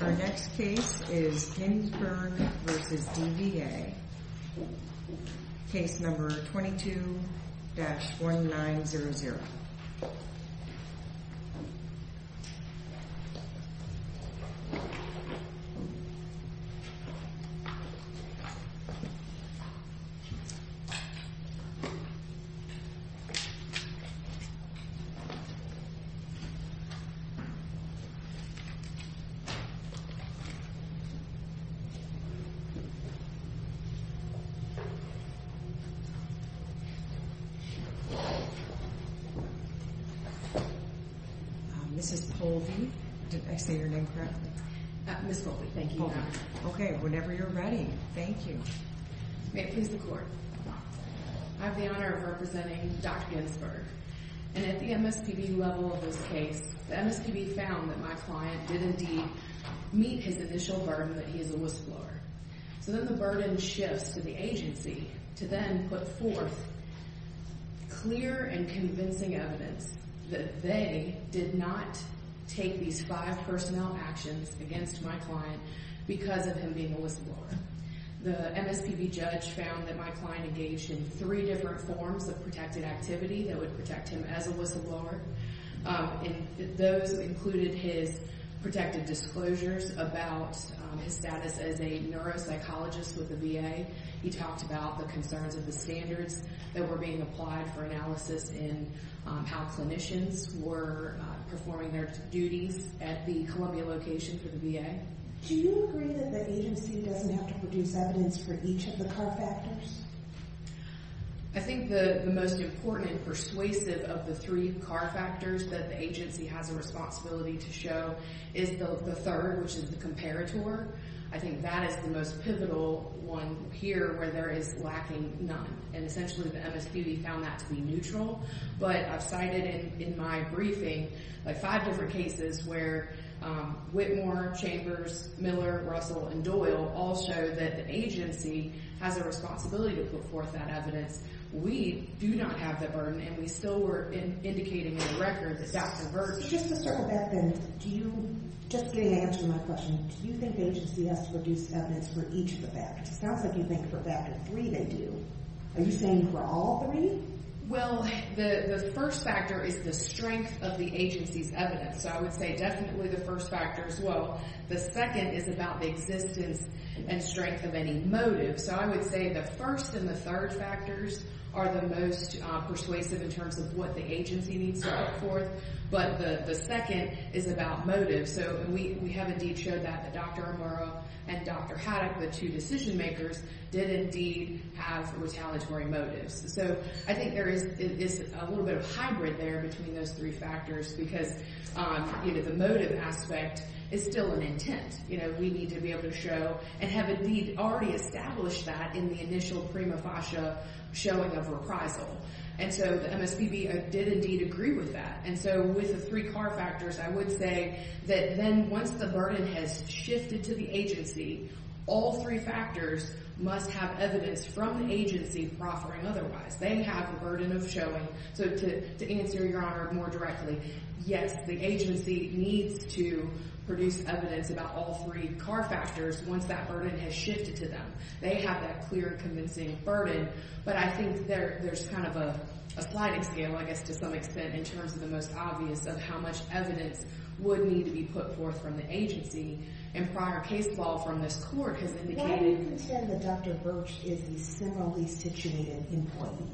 Our next case is Hinsberg v. DVA, case number 22-1900. I have the honor of representing Dr. Hinsberg, and at the MSPB level of this case, the MSPB found that my client did indeed meet his initial burden that he is a whistleblower. So then the burden shifts to the agency to then put forth clear and convincing evidence that they did not take these five personnel actions against my client because of him being a whistleblower. The MSPB judge found that my client engaged in three different forms of protected activity that would protect him as a whistleblower, and those included his protected disclosures about his status as a neuropsychologist with the VA. He talked about the concerns of the standards that were being applied for analysis in how clinicians were performing their duties at the Columbia location for the VA. Do you agree that the agency doesn't have to produce evidence for each of the card factors? I think the most important and persuasive of the three card factors that the agency has a responsibility to show is the third, which is the comparator. I think that is the most pivotal one here where there is lacking none, and essentially the MSPB found that to be neutral. But I've cited in my briefing five different cases where Whitmore, Chambers, Miller, Russell, and Doyle all show that the agency has a responsibility to put forth that evidence. We do not have that burden, and we still were indicating in the record that that's a burden. Just to circle back then, just getting to answer my question, do you think the agency has to produce evidence for each of the factors? It sounds like you think for factor three they do. Are you saying for all three? Well, the first factor is the strength of the agency's evidence. So I would say definitely the first factor as well. The second is about the existence and strength of any motive. So I would say the first and the third factors are the most persuasive in terms of what the agency needs to put forth. But the second is about motive. So we have indeed showed that Dr. O'Mara and Dr. Haddock, the two decision makers, did indeed have retaliatory motives. So I think there is a little bit of hybrid there between those three factors because the motive aspect is still an intent. You know, we need to be able to show and have indeed already established that in the initial prima facie showing of reprisal. And so the MSPB did indeed agree with that. And so with the three car factors, I would say that then once the burden has shifted to the agency, all three factors must have evidence from the agency proffering otherwise. They have a burden of showing. So to answer your honor more directly, yes, the agency needs to produce evidence about all three car factors once that burden has shifted to them. They have that clear convincing burden. But I think there's kind of a sliding scale, I guess to some extent, in terms of the most obvious of how much evidence would need to be put forth from the agency. And prior case law from this court has indicated... Now you can say that Dr. Birch is a similarly situated employee.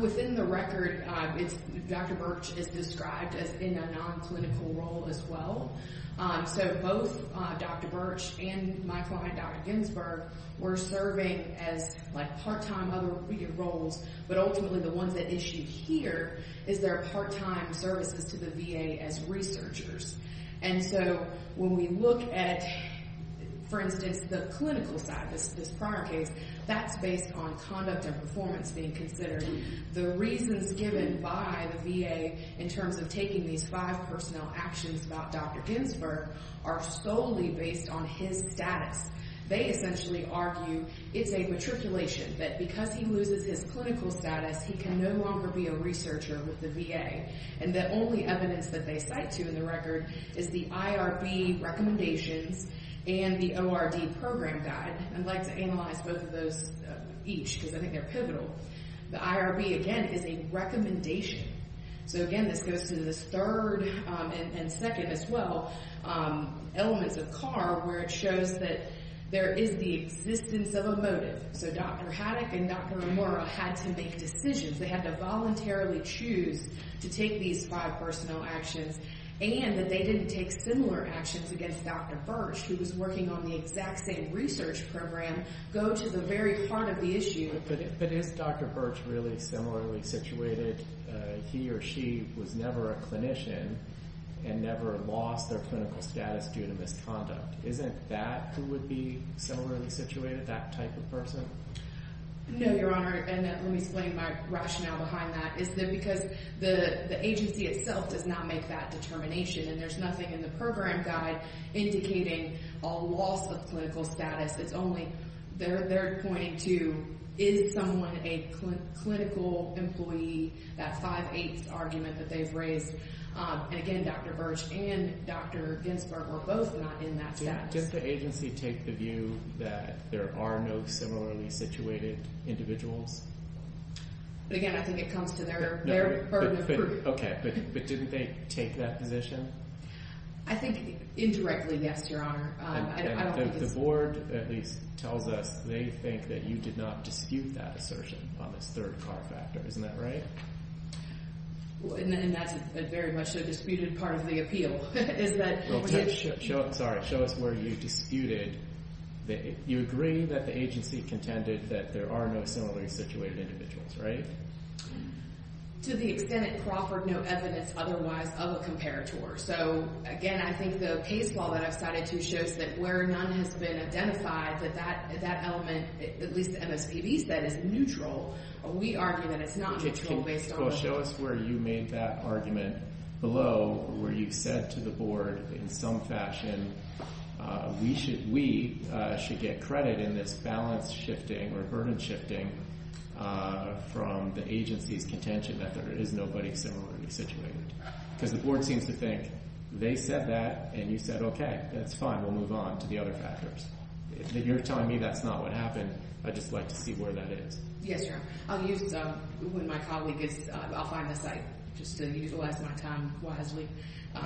Within the record, Dr. Birch is described as in a non-clinical role as well. So both Dr. Birch and my client Dr. Ginsberg were serving as like part-time other roles. But ultimately the ones that issue here is their part-time services to the VA as researchers. And so when we look at, for instance, the clinical side of this prior case, that's based on conduct and performance being considered, the reasons given by the VA in terms of taking these five personnel actions about Dr. Ginsberg are solely based on his status. They essentially argue it's a matriculation, that because he loses his clinical status he can no longer be a researcher with the VA. And the only evidence that they cite to in the record is the IRB recommendations and the ORD program guide. I'd like to analyze both of those each because I think they're pivotal. The IRB, again, is a recommendation. So again, this goes to this third and second as well elements of CARB where it shows that there is the existence of a motive. So Dr. Haddock and Dr. Amora had to make decisions. They had to voluntarily choose to take these five personnel actions. And that they didn't take similar actions against Dr. Birch who was working on the exact same research program go to the very heart of the issue. But is Dr. Birch really similarly situated? He or she was never a clinician and never lost their clinical status due to misconduct. Isn't that who would be similarly situated, that type of person? No, Your Honor. And let me explain my rationale behind that. It's because the agency itself does not make that determination. And there's nothing in the program guide indicating a loss of clinical status. It's only, they're pointing to, is someone a clinical employee? That five-eighths argument that they've raised. And again, Dr. Birch and Dr. Ginsberg were both not in that status. Did the agency take the view that there are no similarly situated individuals? Okay, but didn't they take that position? I think indirectly, yes, Your Honor. The board at least tells us they think that you did not dispute that assertion on this third car factor. Isn't that right? And that's very much a disputed part of the appeal. Sorry, show us where you disputed. You agree that the agency contended that there are no similarly situated individuals, right? To the extent it proffered no evidence otherwise of a comparator. So, again, I think the case law that I've cited to shows that where none has been identified, that that element, at least MSPB said, is neutral. We argue that it's not neutral based on. Well, show us where you made that argument below, where you said to the board in some fashion, we should get credit in this balance shifting or burden shifting from the agency's contention that there is nobody similarly situated. Because the board seems to think they said that and you said, okay, that's fine, we'll move on to the other factors. If you're telling me that's not what happened, I'd just like to see where that is. Yes, Your Honor. I'll use, when my colleague gets, I'll find a site just to utilize my time wisely.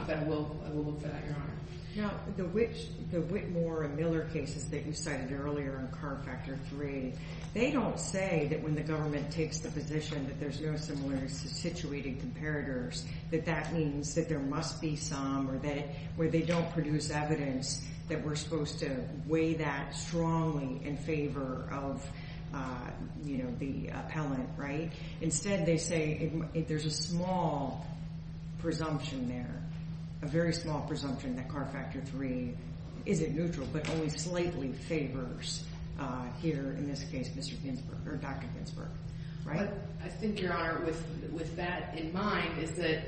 But I will look for that, Your Honor. Now, the Whitmore and Miller cases that you cited earlier on CAR Factor 3, they don't say that when the government takes the position that there's no similarly situated comparators, that that means that there must be some or that where they don't produce evidence that we're supposed to weigh that strongly in favor of, you know, the appellant, right? A very small presumption that CAR Factor 3 isn't neutral but only slightly favors here, in this case, Mr. Ginsburg, or Dr. Ginsburg, right? I think, Your Honor, with that in mind is that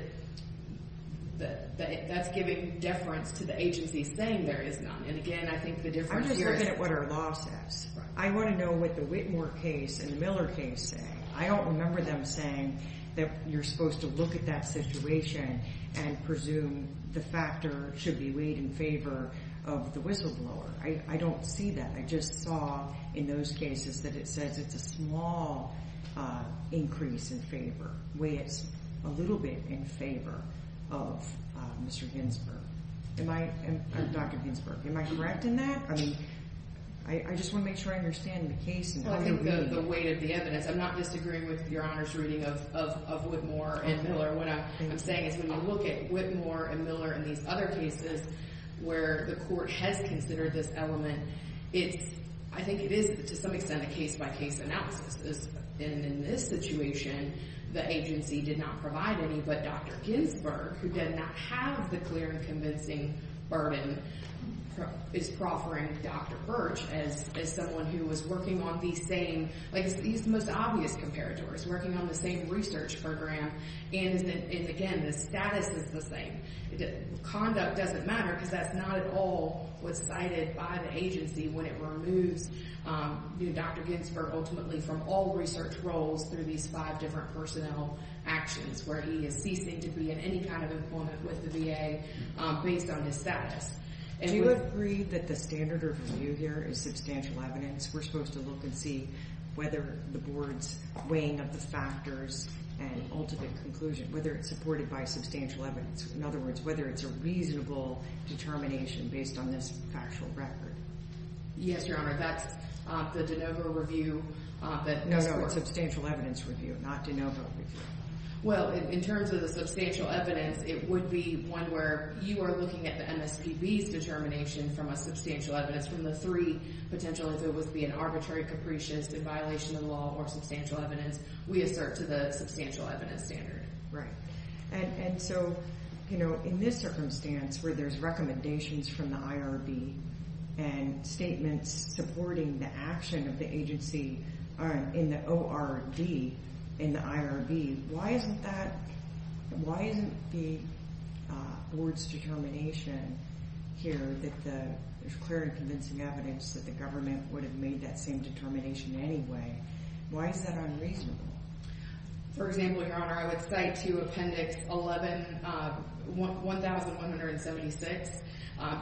that's giving deference to the agency saying there is none. And again, I think the difference here is... I'm just looking at what our law says. Right. I want to know what the Whitmore case and the Miller case say. I don't remember them saying that you're supposed to look at that situation and presume the factor should be weighed in favor of the whistleblower. I don't see that. I just saw in those cases that it says it's a small increase in favor, weigh it a little bit in favor of Mr. Ginsburg. Dr. Ginsburg, am I correct in that? I mean, I just want to make sure I understand the case. The weight of the evidence. I'm not disagreeing with Your Honor's reading of Whitmore and Miller. What I'm saying is when you look at Whitmore and Miller and these other cases where the court has considered this element, it's... I think it is, to some extent, a case-by-case analysis. And in this situation, the agency did not provide any. But Dr. Ginsburg, who did not have the clear and convincing burden, is proffering Dr. Birch as someone who was working on the same... Like, he's the most obvious comparator. He's working on the same research program. And again, the status is the same. Conduct doesn't matter because that's not at all what's cited by the agency when it removes Dr. Ginsburg ultimately from all research roles through these five different personnel actions, where he is ceasing to be in any kind of employment with the VA based on his status. Do you agree that the standard of review here is substantial evidence? We're supposed to look and see whether the board's weighing of the factors and ultimate conclusion, whether it's supported by substantial evidence. In other words, whether it's a reasonable determination based on this factual record. Yes, Your Honor. That's the de novo review that... No, no. Substantial evidence review, not de novo review. Well, in terms of the substantial evidence, it would be one where you are looking at the MSPB's determination from a substantial evidence, from the three potential, if it was being arbitrary, capricious, in violation of the law or substantial evidence, we assert to the substantial evidence standard. Right. And so, you know, in this circumstance where there's recommendations from the IRB and statements supporting the action of the agency in the ORD, in the IRB, why isn't that, why isn't the board's determination here that there's clear and convincing evidence that the government would have made that same determination anyway? Why is that unreasonable? For example, Your Honor, I would cite to Appendix 11, 1176.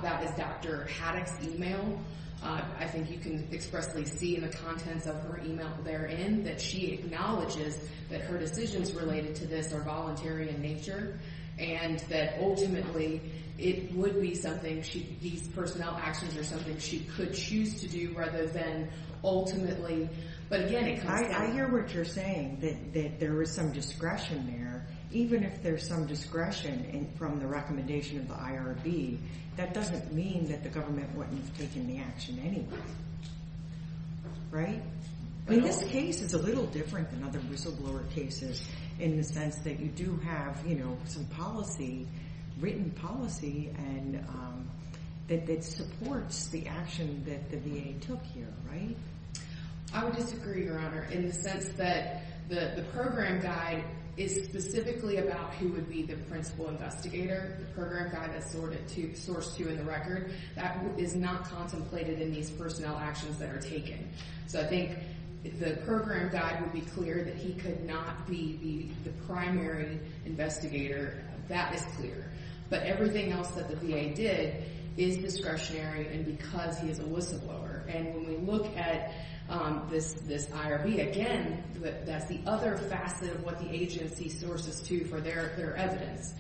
That is Dr. Haddock's email. I think you can expressly see in the contents of her email therein that she acknowledges that her decisions related to this are voluntary in nature and that ultimately it would be something she, these personnel actions are something she could choose to do rather than ultimately... I hear what you're saying, that there is some discretion there. Even if there's some discretion from the recommendation of the IRB, that doesn't mean that the government wouldn't have taken the action anyway. Right? I mean, this case is a little different than other whistleblower cases in the sense that you do have, you know, some policy, written policy, and it supports the action that the VA took here, right? I would disagree, Your Honor, in the sense that the program guide is specifically about who would be the principal investigator. The program guide is sourced to in the record. That is not contemplated in these personnel actions that are taken. So I think if the program guide would be clear that he could not be the primary investigator, that is clear. But everything else that the VA did is discretionary and because he is a whistleblower. And when we look at this IRB, again, that's the other facet of what the agency sources to for their evidence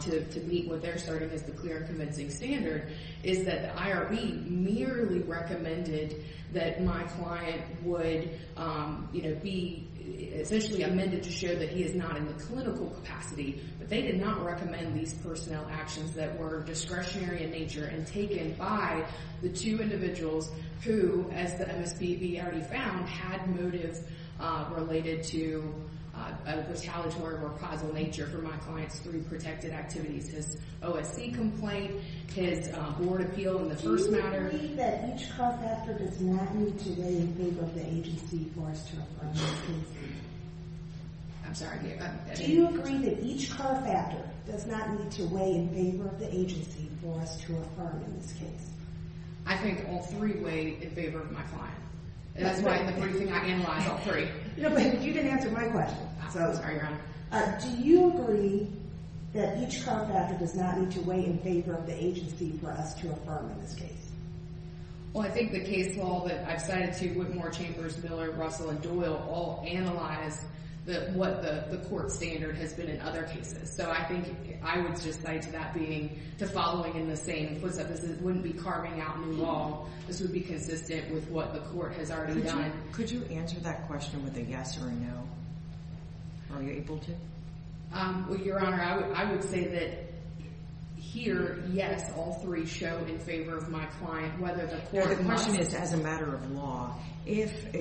to meet what they're starting as the clear and convincing standard, is that the IRB merely recommended that my client would, you know, be essentially amended to show that he is not in the clinical capacity, but they did not recommend these personnel actions that were discretionary in nature and taken by the two individuals who, as the MSPB already found, had motives related to a retaliatory or causal nature for my client's three protected activities, his OSC complaint, his board appeal in the first matter. Do you agree that each cross-example does not need to weigh in favor of the agency for us to approach this case? I'm sorry. Do you agree that each cross-factor does not need to weigh in favor of the agency for us to affirm in this case? I think all three weigh in favor of my client. That's why the first thing I analyzed, all three. No, but you didn't answer my question. I'm sorry, Your Honor. Do you agree that each cross-factor does not need to weigh in favor of the agency for us to affirm in this case? Well, I think the case law that I've cited to Whitmore, Chambers, Miller, Russell, and Doyle all analyze what the court standard has been in other cases. So I think I would just cite that being to following in the same footstep as it wouldn't be carving out new law. This would be consistent with what the court has already done. Could you answer that question with a yes or a no? Are you able to? Well, Your Honor, I would say that here, yes, all three show in favor of my client. The question is as a matter of law. You asked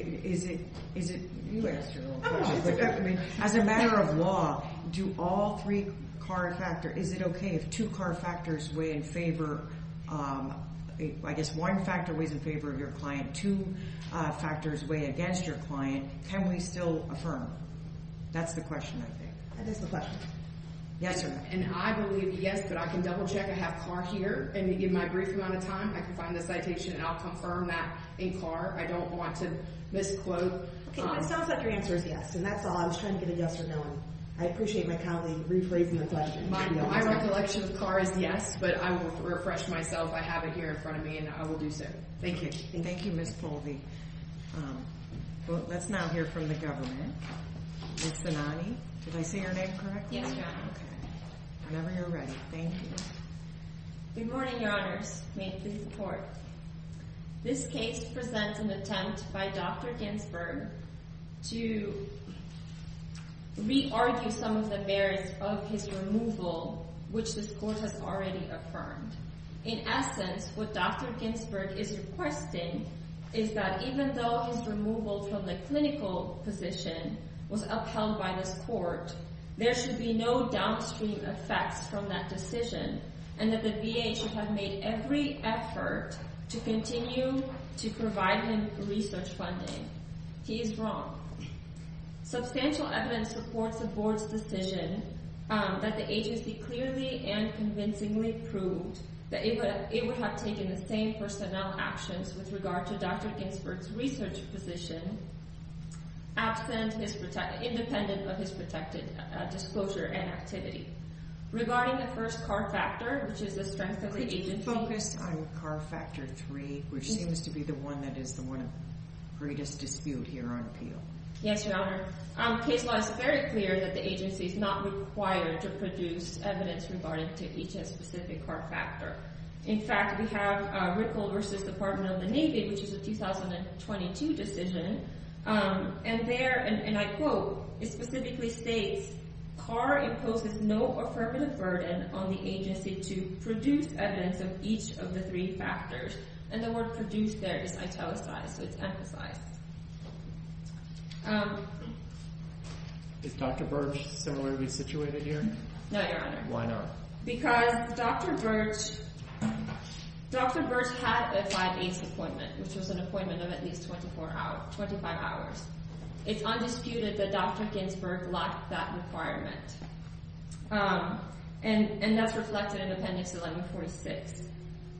your own question. As a matter of law, do all three cross-factor? Is it okay if two cross-factors weigh in favor? I guess one factor weighs in favor of your client. Two factors weigh against your client. Can we still affirm? That's the question, I think. That is the question. Yes or no? And I believe yes, but I can double-check. I have Carr here, and in my brief amount of time, I can find the citation, and I'll confirm that in Carr. I don't want to misquote. Okay, it sounds like your answer is yes, and that's all. I was trying to get a yes or no, and I appreciate my colleague rephrasing the question. My recollection of Carr is yes, but I will refresh myself. I have it here in front of me, and I will do so. Thank you. Thank you, Ms. Poldy. Let's now hear from the government. Ms. Zanotti, did I say your name correctly? Yes, Your Honor. Whenever you're ready. Thank you. Good morning, Your Honors. This is the court. This case presents an attempt by Dr. Ginsburg to re-argue some of the barriers of his removal, which this court has already affirmed. In essence, what Dr. Ginsburg is requesting is that even though his removal from the clinical position was upheld by this court, there should be no downstream effects from that decision, and that the VA should have made every effort to continue to provide him research funding. He is wrong. Substantial evidence supports the board's decision that the agency clearly and convincingly proved that it would have taken the same personnel actions with regard to Dr. Ginsburg's research position, independent of his protected disclosure and activity. Regarding the first Carr factor, which is the strength of the agency— Yes, Your Honor. Case law is very clear that the agency is not required to produce evidence regarding to each specific Carr factor. In fact, we have Rickle v. Department of the Navy, which is a 2022 decision, and there, and I quote, it specifically states, Carr imposes no affirmative burden on the agency to produce evidence of each of the three factors. And the word produced there is italicized, so it's emphasized. Is Dr. Burge similarly situated here? No, Your Honor. Why not? Because Dr. Burge had a five days appointment, which was an appointment of at least 24 hours, 25 hours. It's undisputed that Dr. Ginsburg lacked that requirement, and that's reflected in Appendix 1146.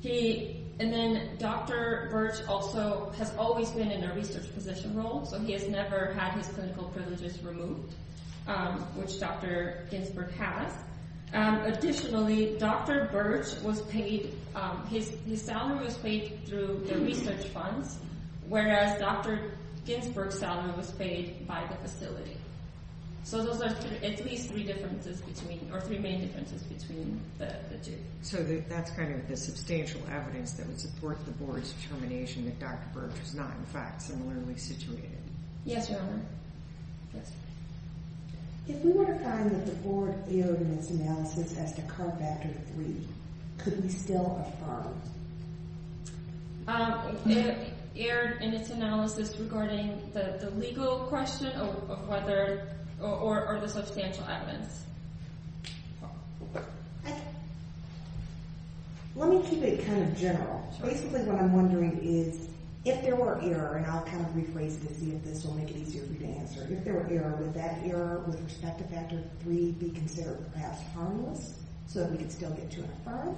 He—and then Dr. Burge also has always been in a research position role, so he has never had his clinical privileges removed, which Dr. Ginsburg has. Additionally, Dr. Burge was paid—his salary was paid through the research funds, whereas Dr. Ginsburg's salary was paid by the facility. So those are at least three differences between—or three main differences between the two. So that's kind of the substantial evidence that would support the Board's determination that Dr. Burge was not, in fact, similarly situated. Yes, Your Honor. If we were to find that the Board erred in its analysis as to CARB Factor 3, could we still have followed? Erred in its analysis regarding the legal question or whether—or the substantial evidence. Let me keep it kind of general. Basically, what I'm wondering is, if there were error—and I'll kind of rephrase this, see if this will make it easier for you to answer. If there were error, would that error with respect to Factor 3 be considered, perhaps, harmless so that we could still get to and from?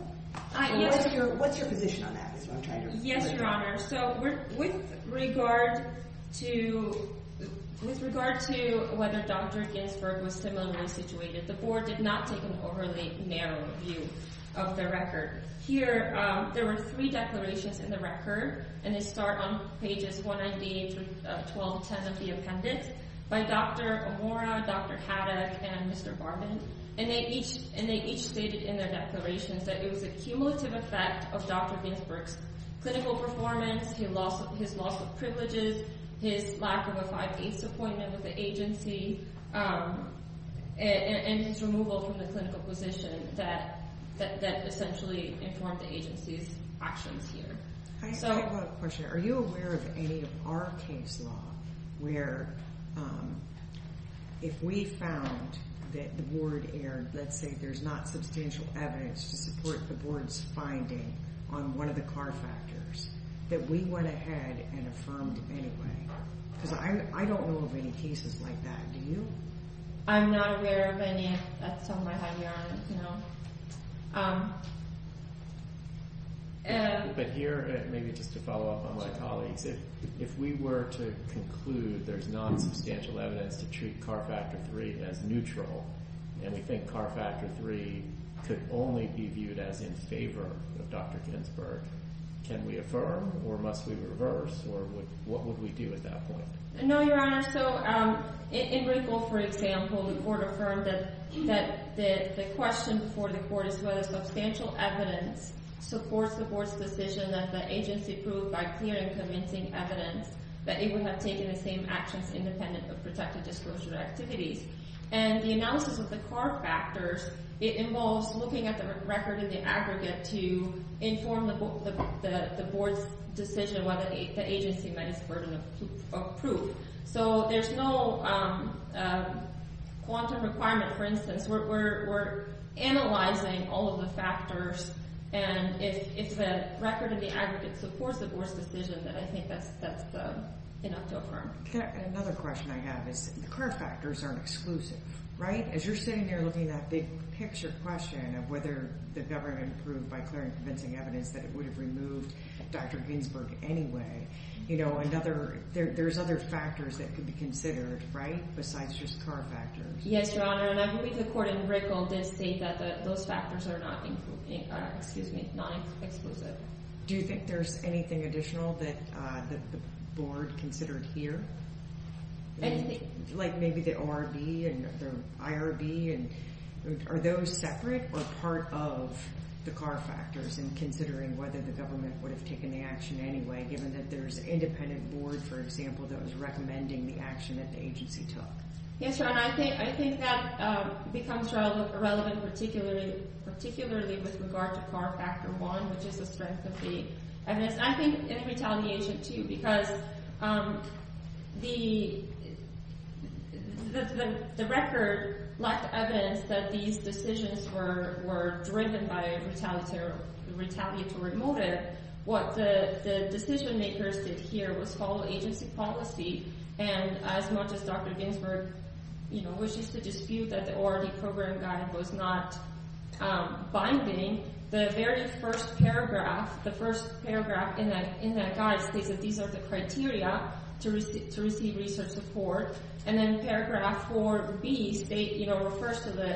What's your position on that? Yes, Your Honor. So with regard to—with regard to whether Dr. Ginsburg was similarly situated, the Board did not take an overly narrow view of the record. Here, there were three declarations in the record, and they start on pages 198 through 1210 of the appendix, by Dr. Omora, Dr. Haddock, and Mr. Barman. And they each stated in their declarations that it was a cumulative effect of Dr. Ginsburg's clinical performance, his loss of privileges, his lack of a 5A's appointment with the agency, and his removal from the clinical position that essentially informed the agency's actions here. I still have one question. Are you aware of any of our case law where, if we found that the Board erred, let's say there's not substantial evidence to support the Board's finding on one of the CAR factors, that we went ahead and affirmed anyway? Because I don't know of any cases like that. Do you? I'm not aware of any. That's all I have, Your Honor. But here, maybe just to follow up on my colleagues, if we were to conclude there's not substantial evidence to treat CAR Factor III as neutral, and we think CAR Factor III could only be viewed as in favor of Dr. Ginsburg, can we affirm, or must we reverse, or what would we do at that point? No, Your Honor. So in Wrinkle, for example, the Court affirmed that the question before the Court is whether substantial evidence supports the Board's decision that the agency proved by clear and convincing evidence that it would have taken the same actions independent of protected disclosure activities. And the analysis of the CAR factors, it involves looking at the record and the aggregate to inform the Board's decision whether the agency met its burden of proof. So there's no quantum requirement, for instance. We're analyzing all of the factors, and if the record and the aggregate supports the Board's decision, then I think that's enough to affirm. Another question I have is the CAR factors aren't exclusive, right? As you're sitting there looking at the picture question of whether the government proved by clear and convincing evidence that it would have removed Dr. Ginsburg anyway, you know, there's other factors that could be considered, right, besides just CAR factors. Yes, Your Honor, and I believe the Court in Wrinkle did say that those factors are not exclusive. Do you think there's anything additional that the Board considered here? Anything? Like maybe the ORB and the IRB, and are those separate or part of the CAR factors in considering whether the government would have taken the action anyway, given that there's an independent Board, for example, that was recommending the action that the agency took? Yes, Your Honor, I think that becomes relevant particularly with regard to CAR factor one, which is the strength of the evidence. And then paragraph four, which is to dispute that the ORD program guide was not binding, the very first paragraph, the first paragraph in that guide states that these are the criteria to receive research support, and then paragraph four B, you know, refers to the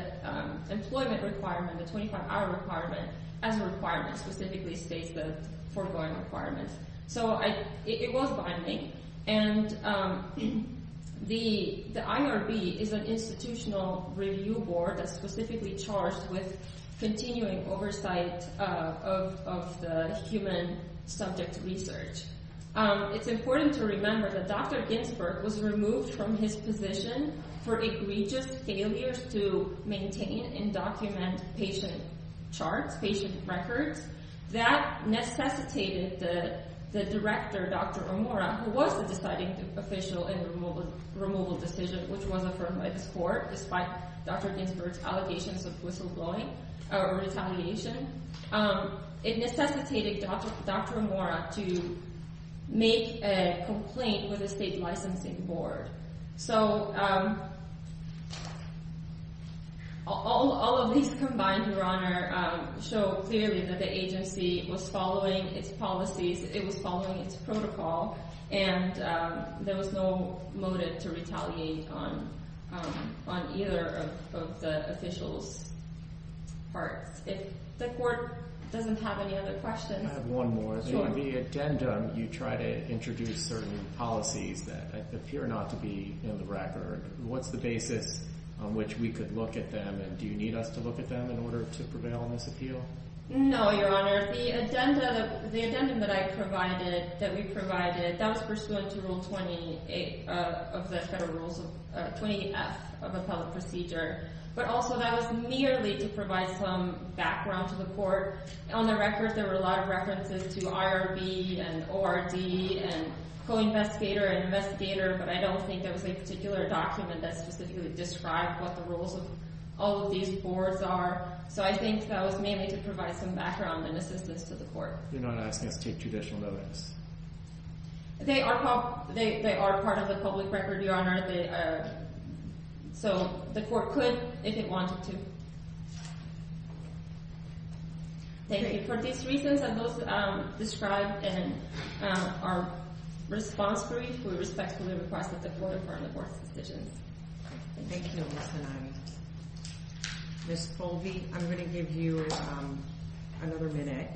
employment requirement, the 25-hour requirement, as a requirement, specifically states the foregoing requirements. So it was binding, and the IRB is an institutional review board that's specifically charged with continuing oversight of the human subject research. It's important to remember that Dr. Ginsburg was removed from his position for egregious failures to maintain and document patient charts, patient records. That necessitated the director, Dr. Omura, who was the deciding official in the removal decision, which was affirmed by this Court despite Dr. Ginsburg's allegations of whistleblowing or retaliation. It necessitated Dr. Omura to make a complaint with the State Licensing Board. So all of these combined, Your Honor, show clearly that the agency was following its policies, it was following its protocol, and there was no motive to retaliate on either of the officials' parts. If the Court doesn't have any other questions. I have one more. So in the addendum, you try to introduce certain policies that appear not to be in the record. What's the basis on which we could look at them, and do you need us to look at them in order to prevail on this appeal? No, Your Honor. The addendum that I provided, that we provided, that was pursuant to Rule 28 of the Federal Rules, 28F of Appellate Procedure. But also that was merely to provide some background to the Court. On the record, there were a lot of references to IRB and ORD and co-investigator and investigator, but I don't think there was a particular document that specifically described what the roles of all of these boards are. So I think that was mainly to provide some background and assistance to the Court. You're not asking us to take judicial notice? They are part of the public record, Your Honor. So the Court could, if it wanted to. Thank you. For these reasons, and those described in our response brief, we respectfully request that the Court inform the Court's decisions. Thank you, Ms. Tanani. Ms. Colby, I'm going to give you another minute.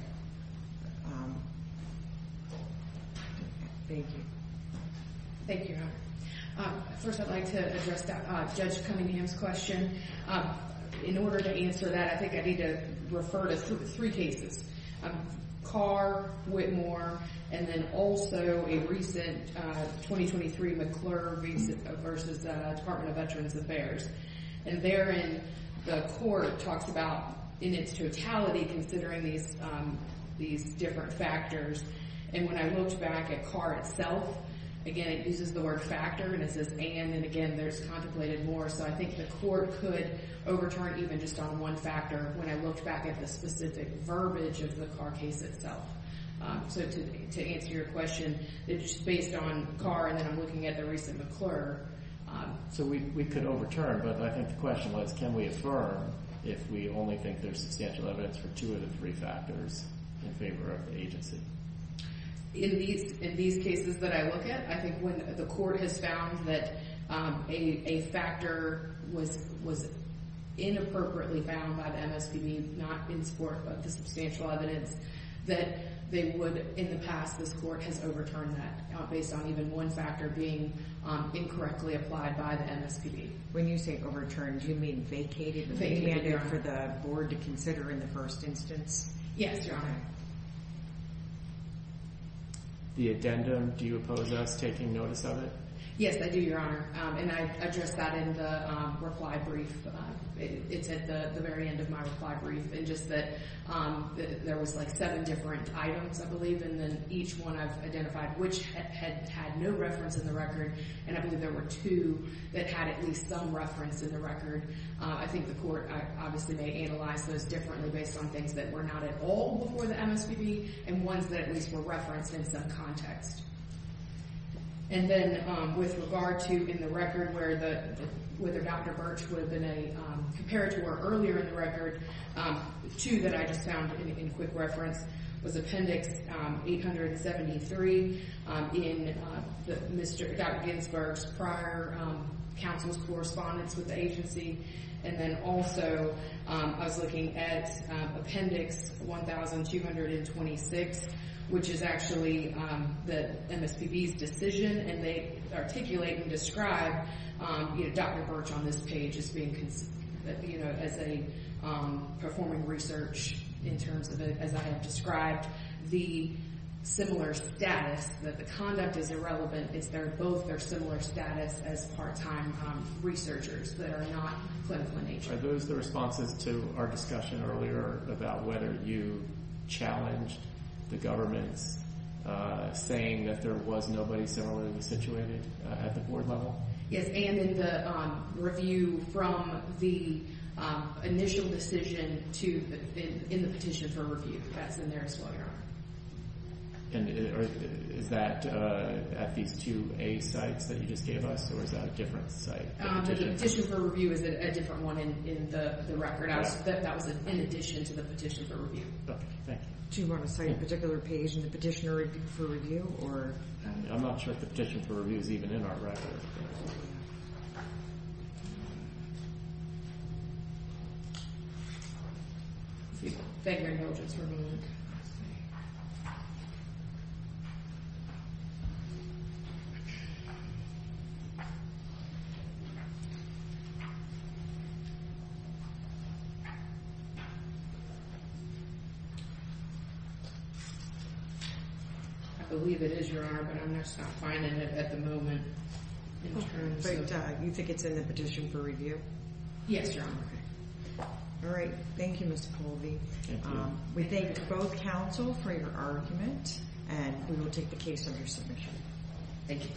Thank you. Thank you, Your Honor. First, I'd like to address Judge Cunningham's question. In order to answer that, I think I need to refer to three cases. Carr, Whitmore, and then also a recent 2023 McClure v. Department of Veterans Affairs. And therein, the Court talks about, in its totality, considering these different factors. And when I looked back at Carr itself, again, it uses the word factor, and it says and, and again, there's contemplated more. So I think the Court could overturn even just on one factor when I looked back at the specific verbiage of the Carr case itself. So to answer your question, it's just based on Carr, and then I'm looking at the recent McClure. So we could overturn, but I think the question was, can we affirm if we only think there's substantial evidence for two of the three factors in favor of the agency? In these cases that I look at, I think when the Court has found that a factor was inappropriately found by the MSPB not in support of the substantial evidence, that they would, in the past, this Court has overturned that based on even one factor being incorrectly applied by the MSPB. When you say overturned, do you mean vacated or demanded for the Board to consider in the first instance? Yes, Your Honor. The addendum, do you oppose us taking notice of it? Yes, I do, Your Honor, and I addressed that in the reply brief. It's at the very end of my reply brief, and just that there was like seven different items, I believe, and then each one I've identified which had no reference in the record, and I believe there were two that had at least some reference in the record. I think the Court obviously may analyze those differently based on things that were not at all before the MSPB, and ones that at least were referenced in some context. And then with regard to in the record whether Dr. Birch would have been a comparator or earlier in the record, two that I just found in quick reference was Appendix 873 in Dr. Ginsburg's prior counsel's correspondence with the agency, and then also I was looking at Appendix 1226, which is actually the MSPB's decision, and they articulate and describe Dr. Birch on this page as performing research in terms of, as I have described, the similar status, that the conduct is irrelevant. It's both their similar status as part-time researchers that are not clinical in nature. Are those the responses to our discussion earlier about whether you challenged the government's saying that there was nobody similarly situated at the board level? Yes, and in the review from the initial decision in the petition for review. That's in there as well, Your Honor. And is that at these two A sites that you just gave us, or is that a different site? The petition for review is a different one in the record. That was in addition to the petition for review. Okay, thank you. Do you want to cite a particular page in the petition for review? I'm not sure if the petition for review is even in our record. Thank you, Your Honor. I believe it is, Your Honor, but I'm not finding it at the moment. But you think it's in the petition for review? Yes, Your Honor. All right. Thank you, Ms. Colby. Thank you. We thank both counsel for your argument, and we will take the case under submission. Thank you.